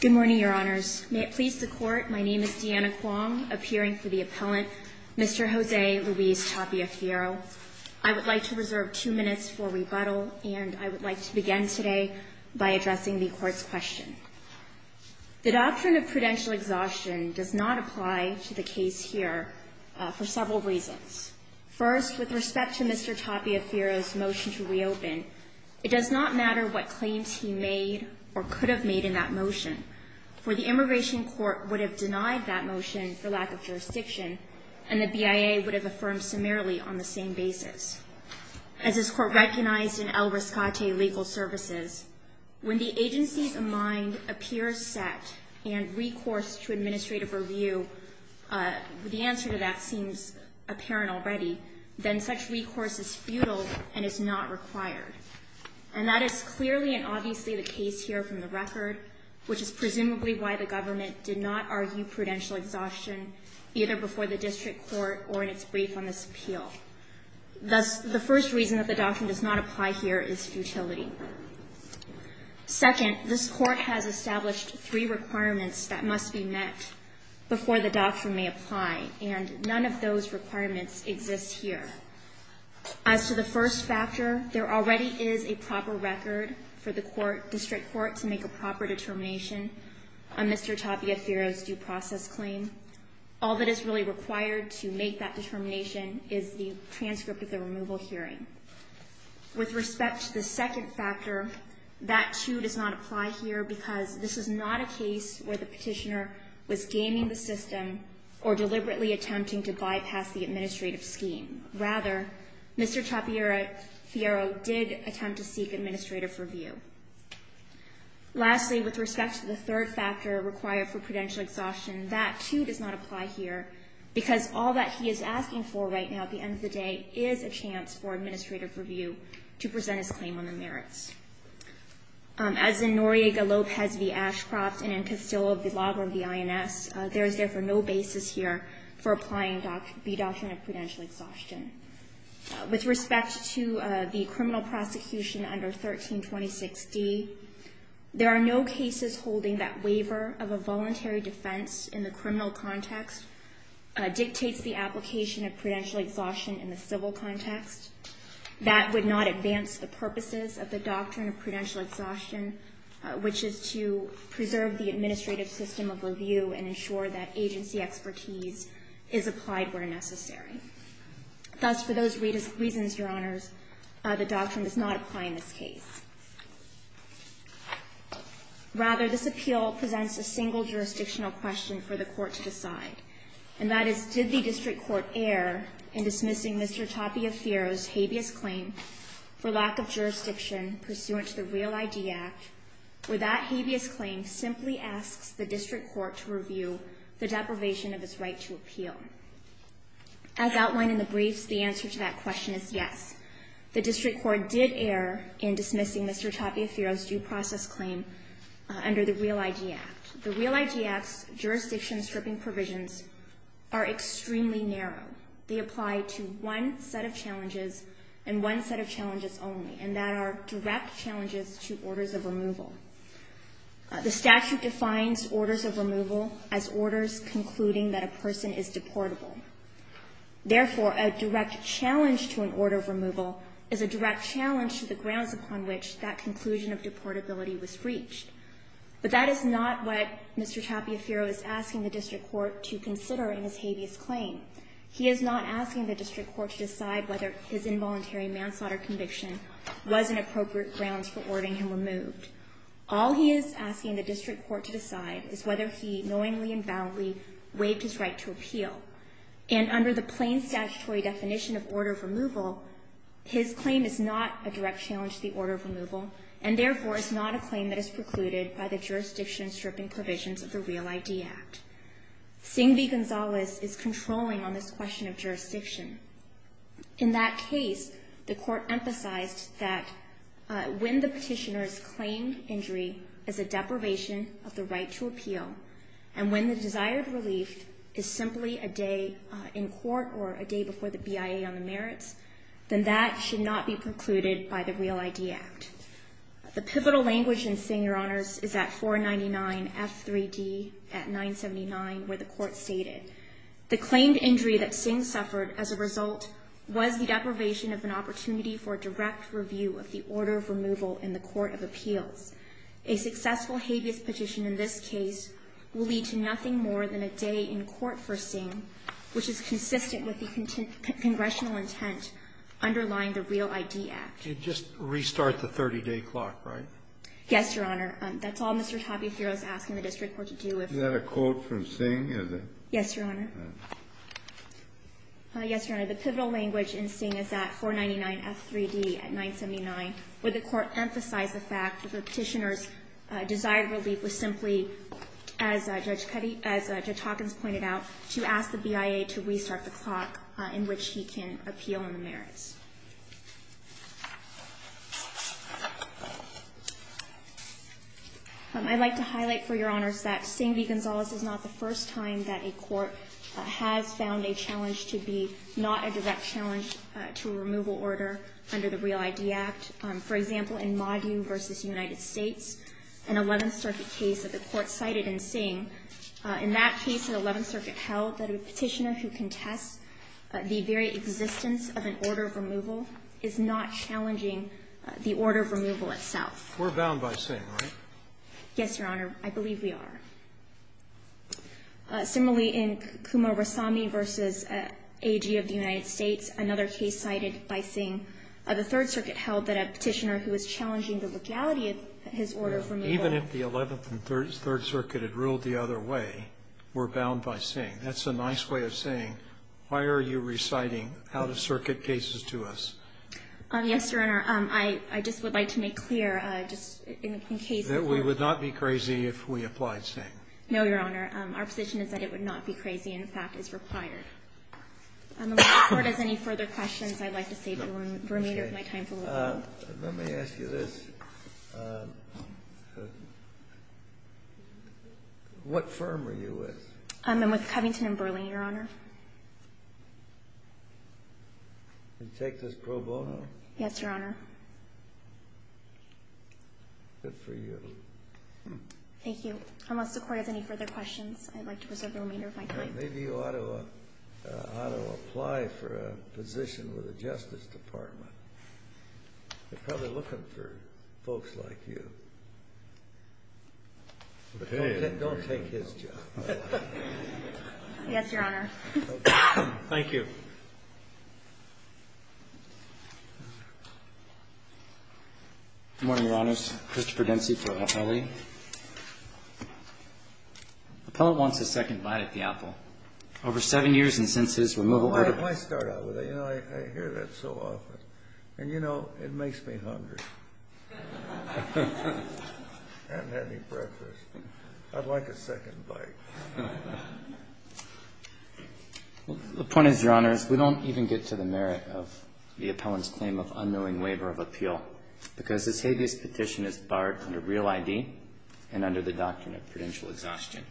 Good morning, Your Honors. May it please the Court, my name is Deanna Kuang, appearing for the appellant, Mr. Jose Luis Tapia-Fierro. I would like to reserve two minutes for rebuttal, and I would like to begin today by addressing the Court's question. The doctrine of prudential exhaustion does not apply to the case here for several reasons. First, with respect to Mr. Tapia-Fierro's motion to reopen, it does not matter what claims he made or could have made in that motion, for the Immigration Court would have denied that motion for lack of jurisdiction, and the BIA would have affirmed summarily on the same basis. Second, as this Court recognized in El Riscate Legal Services, when the agency's mind appears set and recourse to administrative review, the answer to that seems apparent already, then such recourse is futile and is not required. And that is clearly and obviously the case here from the record, which is presumably why the government did not argue prudential exhaustion either before the District Court or in its brief on this appeal. Thus, the first reason that the doctrine does not apply here is futility. Second, this Court has established three requirements that must be met before the doctrine may apply, and none of those requirements exist here. As to the first factor, there already is a proper record for the District Court to make a proper determination on Mr. Tapia-Fierro's due process claim. All that is really required to make that determination is the transcript of the removal hearing. With respect to the second factor, that, too, does not apply here because this is not a case where the petitioner was gaming the system or deliberately attempting to bypass the administrative scheme. Rather, Mr. Tapia-Fierro did attempt to seek administrative review. Lastly, with respect to the third factor required for prudential exhaustion, that, too, does not apply here because all that he is asking for right now at the end of the day is a chance for administrative review to present his claim on the merits. As in Noriega, Lopez v. Ashcroft, and in Castillo v. Lago of the INS, there is therefore no basis here for applying the doctrine of prudential exhaustion. With respect to the criminal prosecution under 1326D, there are no cases holding that waiver of a voluntary defense in the criminal context dictates the application of prudential exhaustion in the civil context. That would not advance the purposes of the doctrine of prudential exhaustion, which is to preserve the administrative system of review and ensure that agency expertise is applied where necessary. Thus, for those reasons, Your Honors, the doctrine does not apply in this case. Rather, this appeal presents a single jurisdictional question for the court to decide, and that is, did the district court err in dismissing Mr. Tapia-Fierro's habeas claim for lack of jurisdiction pursuant to the REAL-ID Act, where that habeas claim simply asks the district court to review the deprivation of its right to appeal? As outlined in the briefs, the answer to that question is yes. The district court did err in dismissing Mr. Tapia-Fierro's due process claim under the REAL-ID Act. The REAL-ID Act's jurisdiction stripping provisions are extremely narrow. They apply to one set of challenges and one set of challenges only, and that are direct challenges to orders of removal. The statute defines orders of removal as orders concluding that a person is deportable. Therefore, a direct challenge to an order of removal is a direct challenge to the grounds upon which that conclusion of deportability was reached. But that is not what Mr. Tapia-Fierro is asking the district court to consider in his habeas claim. He is not asking the district court to decide whether his involuntary manslaughter conviction was an appropriate grounds for ordering him removed. All he is asking the district court to decide is whether he knowingly and boundly waived his right to appeal. And under the plain statutory definition of order of removal, his claim is not a direct challenge to the order of removal, and therefore is not a claim that is precluded by the jurisdiction stripping provisions of the REAL-ID Act. Singh v. Gonzalez is controlling on this question of jurisdiction. In that case, the court emphasized that when the petitioner's claimed injury is a deprivation of the right to appeal, and when the desired relief is simply a day in court or a day before the BIA on the merits, then that should not be precluded by the REAL-ID Act. The pivotal language in Singh, Your Honors, is at 499F3D at 979, where the court stated, the claimed injury that Singh suffered as a result was the deprivation of an opportunity for a direct review of the order of removal in the court of appeals. A successful habeas petition in this case will lead to nothing more than a day in court for Singh, which is consistent with the congressional intent underlying the REAL-ID Act. Just restart the 30-day clock, right? Yes, Your Honor. That's all Mr. Tapiaferro is asking the district court to do. Is that a quote from Singh? Yes, Your Honor. Yes, Your Honor. The pivotal language in Singh is at 499F3D at 979, where the court emphasized the fact that the petitioner's desired relief was simply, as Judge Hawkins pointed out, to ask the BIA to restart the clock in which he can appeal on the merits. I'd like to highlight for Your Honors that Singh v. Gonzalez is not the first time that a court has found a challenge to be not a direct challenge to a removal order under the REAL-ID Act. For example, in Moggy v. United States, an 11th Circuit case that the court cited in Singh, in that case, the 11th Circuit held that a petitioner who contests the very existence of an order of removal is not challenging the order of removal itself. We're bound by Singh, right? Yes, Your Honor. I believe we are. Similarly, in Kumar Rasami v. AG of the United States, another case cited by Singh, the 3rd Circuit held that a petitioner who is challenging the legality of his order of removal Even if the 11th and 3rd Circuit had ruled the other way, we're bound by Singh. That's a nice way of saying, why are you reciting out-of-circuit cases to us? Yes, Your Honor. I just would like to make clear, just in case. That we would not be crazy if we applied Singh. No, Your Honor. Our position is that it would not be crazy. In fact, it's required. If the Court has any further questions, I'd like to save the remainder of my time for a little while. Let me ask you this. What firm are you with? I'm with Covington & Burling, Your Honor. You take this pro bono? Yes, Your Honor. Good for you. Thank you. Unless the Court has any further questions, I'd like to preserve the remainder of my time. Maybe you ought to apply for a position with the Justice Department. They're probably looking for folks like you. Don't take his job. Yes, Your Honor. Thank you. Good morning, Your Honors. Christopher Dempsey for Appellee. The appellant wants a second bite at the apple. Over seven years and since his removal order. Let me start out with it. I hear that so often. And you know, it makes me hungry. I haven't had any breakfast. I'd like a second bite. The point is, Your Honors, we don't even get to the merit of the appellant's claim of unknowing waiver of appeal because his habeas petition is barred under real ID and under the doctrine of prudential exhaustion.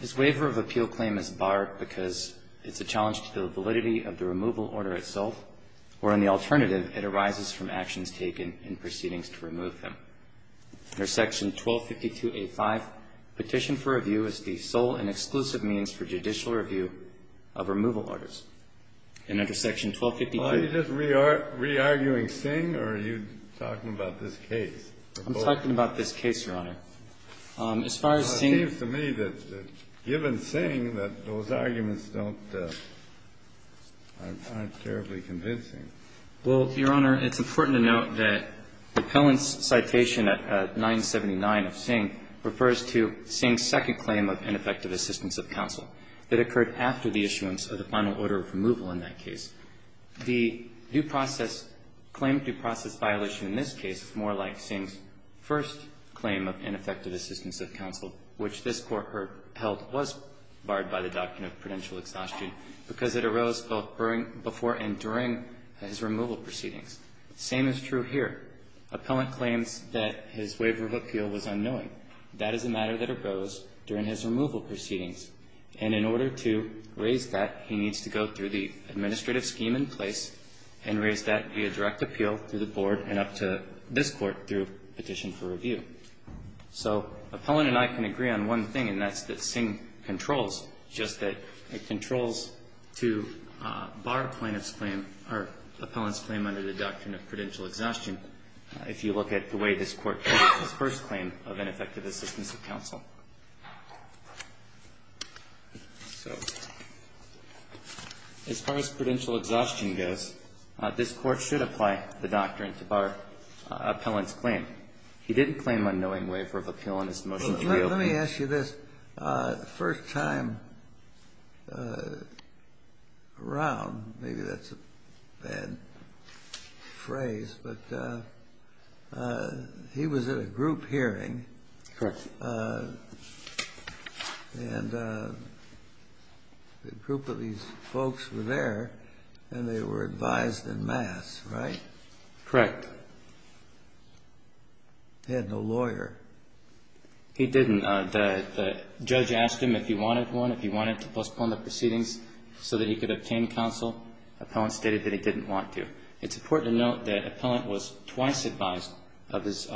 His waiver of appeal claim is barred because it's a challenge to the validity of the result, or on the alternative, it arises from actions taken in proceedings to remove him. Under Section 1252A5, petition for review is the sole and exclusive means for judicial review of removal orders. And under Section 1252. Are you just re-arguing Singh or are you talking about this case? I'm talking about this case, Your Honor. As far as Singh. It seems to me that given Singh that those arguments don't, aren't terribly convincing. Well, Your Honor, it's important to note that the appellant's citation at 979 of Singh refers to Singh's second claim of ineffective assistance of counsel that occurred after the issuance of the final order of removal in that case. The due process claim, due process violation in this case is more like Singh's first claim of ineffective assistance of counsel, which this Court held was barred by the doctrine of prudential exhaustion because it arose both before and during his removal proceedings. The same is true here. Appellant claims that his waiver of appeal was unknowing. That is a matter that arose during his removal proceedings, and in order to raise that, he needs to go through the administrative scheme in place and raise that via review. So appellant and I can agree on one thing, and that's that Singh controls, just that it controls to bar plaintiff's claim or appellant's claim under the doctrine of prudential exhaustion if you look at the way this Court held his first claim of ineffective assistance of counsel. So as far as prudential exhaustion goes, this Court should apply the doctrine to bar appellant's claim. He didn't claim unknowing waiver of appeal in his motion to reopen. Kennedy. Let me ask you this. The first time around, maybe that's a bad phrase, but he was at a group hearing. Correct. And a group of these folks were there, and they were advised en masse, right? Correct. He had no lawyer. He didn't. The judge asked him if he wanted one, if he wanted to postpone the proceedings so that he could obtain counsel. Appellant stated that he didn't want to. It's important to note that appellant was twice advised of his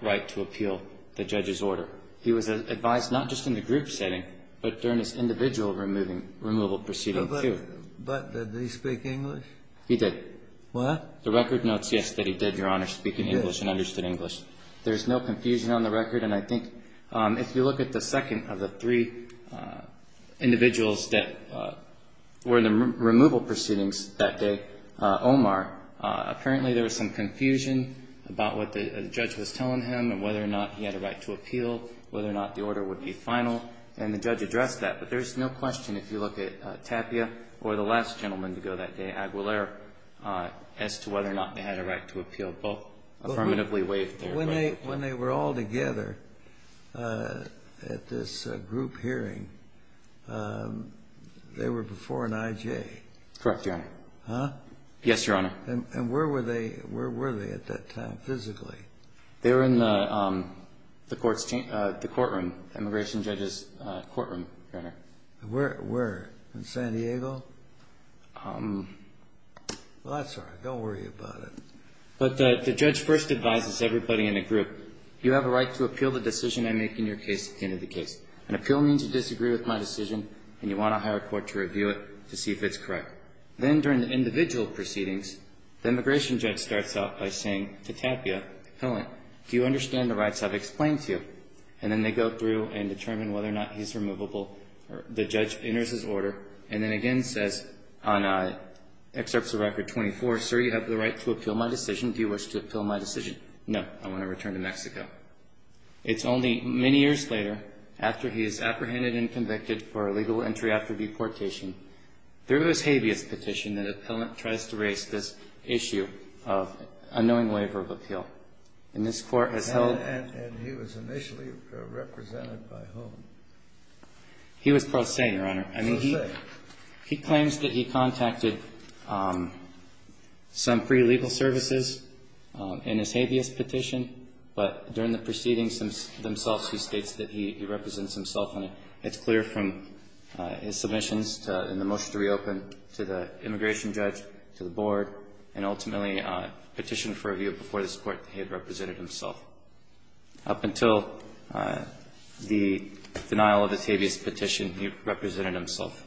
right to appeal the judge's order. He was advised not just in the group setting, but during his individual removal proceeding, too. But did he speak English? He did. What? The record notes, yes, that he did, Your Honor, speak English and understood English. There's no confusion on the record. And I think if you look at the second of the three individuals that were in the removal proceedings that day, Omar, apparently there was some confusion about what the judge was telling him and whether or not he had a right to appeal, whether or not the order would be final. And the judge addressed that. But there's no question if you look at Tapia or the last gentleman to go that day, Aguilera, as to whether or not they had a right to appeal, both affirmatively waived their right. When they were all together at this group hearing, they were before an I.J.? Correct, Your Honor. Huh? Yes, Your Honor. And where were they at that time physically? They were in the courtroom, immigration judge's courtroom, Your Honor. Where? In San Diego? Well, that's all right. Don't worry about it. But the judge first advises everybody in the group, you have a right to appeal the decision I make in your case at the end of the case. An appeal means you disagree with my decision and you want to hire a court to review it to see if it's correct. Then during the individual proceedings, the immigration judge starts off by saying to Tapia, Helen, do you understand the rights I've explained to you? And then they go through and determine whether or not he's removable. The judge enters his order and then again says on Excerpts of Record 24, sir, you have the right to appeal my decision. Do you wish to appeal my decision? No, I want to return to Mexico. It's only many years later, after he is apprehended and convicted for illegal entry after deportation, through his habeas petition, that an appellant tries to raise this issue of unknowing waiver of appeal. And this court has held And he was initially represented by whom? He was pro se, Your Honor. Pro se. I mean, he claims that he contacted some pre-legal services in his habeas petition, but during the proceedings themselves, he states that he represents himself. And it's clear from his submissions in the motion to reopen to the immigration judge, to the board, and ultimately petitioned for review before this court that he had represented himself. Up until the denial of his habeas petition, he represented himself.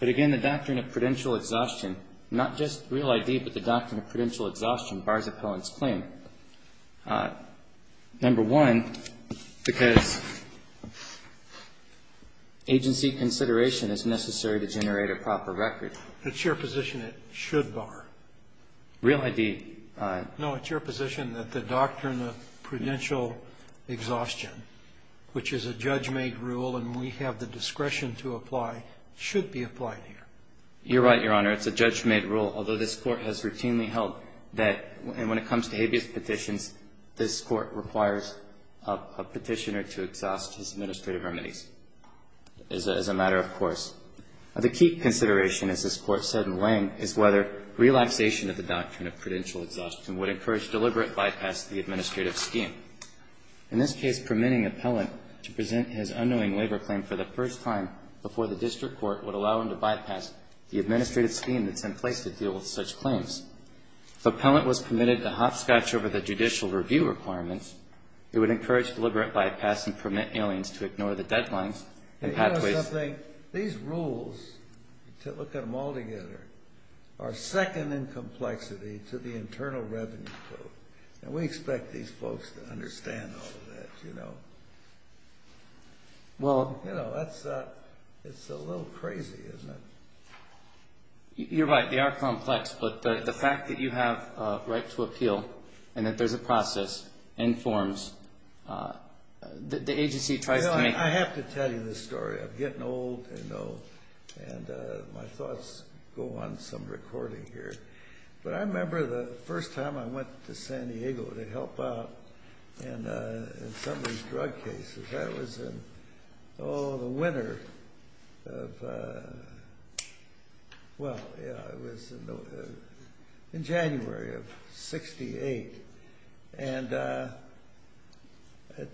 But again, the doctrine of prudential exhaustion, not just Real ID, but the doctrine of prudential exhaustion bars appellant's claim. Number one, because agency consideration is necessary to generate a proper record. It's your position it should bar. Real ID. No, it's your position that the doctrine of prudential exhaustion, which is a judge-made rule and we have the discretion to apply, should be applied here. You're right, Your Honor. It's a judge-made rule, although this Court has routinely held that when it comes to habeas petitions, this Court requires a petitioner to exhaust his administrative remedies as a matter of course. The key consideration, as this Court said in Lang, is whether relaxation of the doctrine of prudential exhaustion would encourage deliberate bypass of the administrative scheme. In this case, permitting appellant to present his unknowing labor claim for the first time before the district court would allow him to bypass the administrative scheme that's in place to deal with such claims. If appellant was permitted to hopscotch over the judicial review requirements, it would encourage deliberate bypass and permit aliens to ignore the deadlines and pathways. These rules, look at them all together, are second in complexity to the Internal Revenue Code. And we expect these folks to understand all of that. You know, it's a little crazy, isn't it? You're right, they are complex. But the fact that you have a right to appeal and that there's a process and forms, the agency tries to make... I have to tell you this story. I'm getting old, you know, and my thoughts go on some recording here. But I remember the first time I went to San Diego to help out in somebody's drug cases. That was in, oh, the winter of, well, yeah, it was in January of 68. And at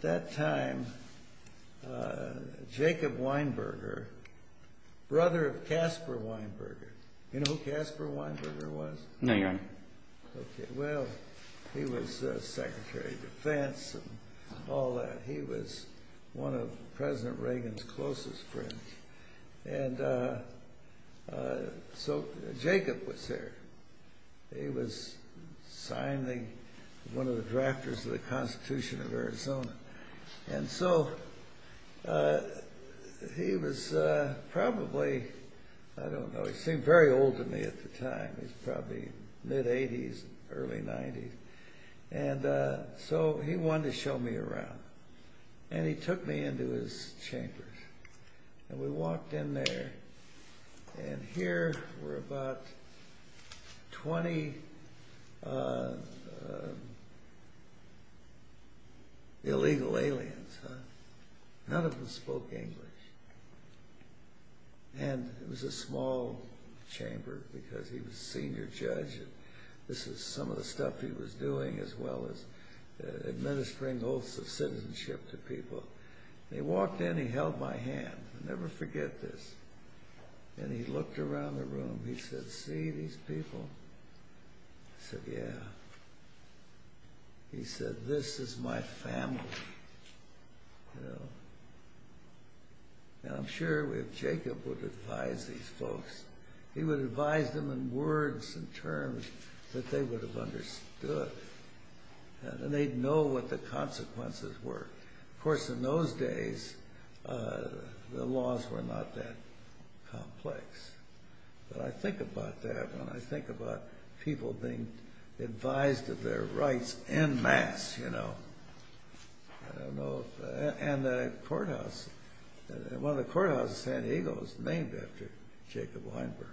that time, Jacob Weinberger, brother of Caspar Weinberger. You know who Caspar Weinberger was? No, Your Honor. Okay, well, he was Secretary of Defense and all that. He was one of President Reagan's closest friends. And so Jacob was there. He was signed one of the drafters of the Constitution of Arizona. And so he was probably, I don't know, he seemed very old to me at the time. He was probably mid-80s, early 90s. And so he wanted to show me around. And he took me into his chambers. And we walked in there. And here were about 20 illegal aliens. None of them spoke English. And it was a small chamber because he was a senior judge. This was some of the stuff he was doing as well as administering oaths of citizenship to people. They walked in. He held my hand. I'll never forget this. And he looked around the room. He said, see these people? I said, yeah. He said, this is my family. And I'm sure if Jacob would advise these folks, he would advise them in words and terms that they would have understood. And they'd know what the consequences were. Of course, in those days, the laws were not that complex. But I think about that when I think about people being advised of their rights en masse, you know. And the courthouse, one of the courthouses in San Diego was named after Jacob Weinberger.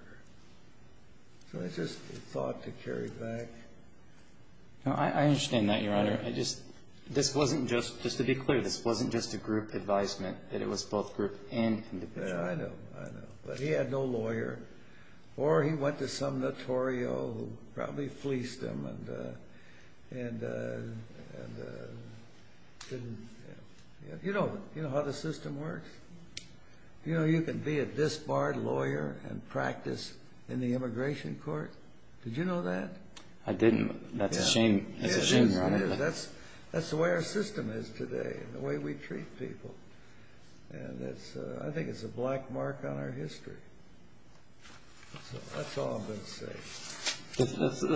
So it's just a thought to carry back. I understand that, Your Honor. Just to be clear, this wasn't just a group advisement. It was both group and independent. I know, I know. But he had no lawyer. Or he went to some notorio who probably fleeced him. You know how the system works? You can be a disbarred lawyer and practice in the immigration court. Did you know that? I didn't. That's a shame. That's a shame, Your Honor. That's the way our system is today, the way we treat people. And I think it's a black mark on our history. So that's all I'm going to say.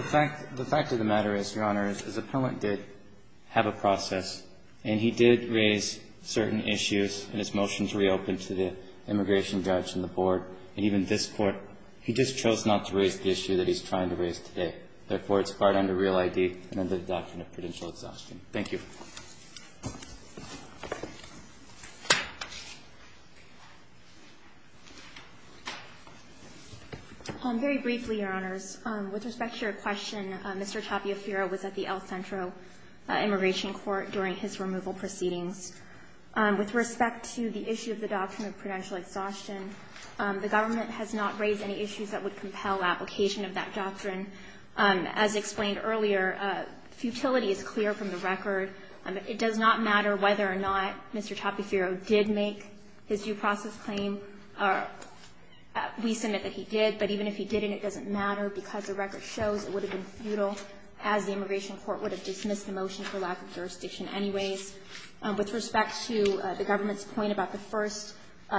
The fact of the matter is, Your Honor, is Appellant did have a process. And he did raise certain issues in his motion to reopen to the immigration judge and the board. And even this Court, he just chose not to raise the issue that he's trying to raise today. Therefore, it's barred under Real ID and under the Doctrine of Prudential Exhaustion. Thank you. Very briefly, Your Honors. With respect to your question, Mr. Tapiaferro was at the El Centro immigration court during his removal proceedings. With respect to the issue of the Doctrine of Prudential Exhaustion, the government has not raised any issues that would compel application of that doctrine. As explained earlier, futility is clear from the record. It does not matter whether or not Mr. Tapiaferro did make his due process claim. We submit that he did. But even if he didn't, it doesn't matter because the record shows it would have been futile, as the immigration court would have dismissed the motion for lack of jurisdiction anyways. With respect to the government's point about the first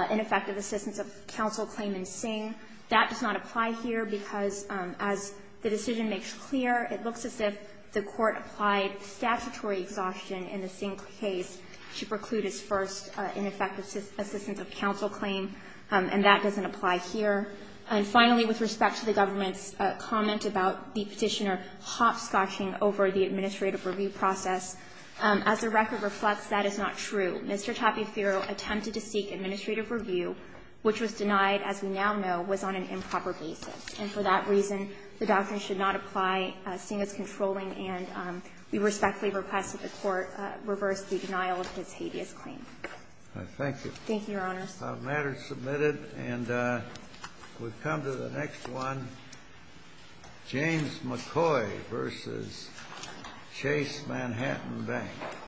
ineffective assistance of counsel claim in the Singh, that does not apply here because, as the decision makes clear, it looks as if the court applied statutory exhaustion in the Singh case to preclude his first ineffective assistance of counsel claim, and that doesn't apply here. And finally, with respect to the government's comment about the Petitioner hopscotching over the administrative review process, as the record reflects, that is not true. Mr. Tapiaferro attempted to seek administrative review, which was denied, as we now know, was on an improper basis. And for that reason, the doctrine should not apply. Singh is controlling. And we respectfully request that the Court reverse the denial of his hideous claim. Thank you. Thank you, Your Honors. The matter is submitted. And we come to the next one, James McCoy v. Chase Manhattan Bank.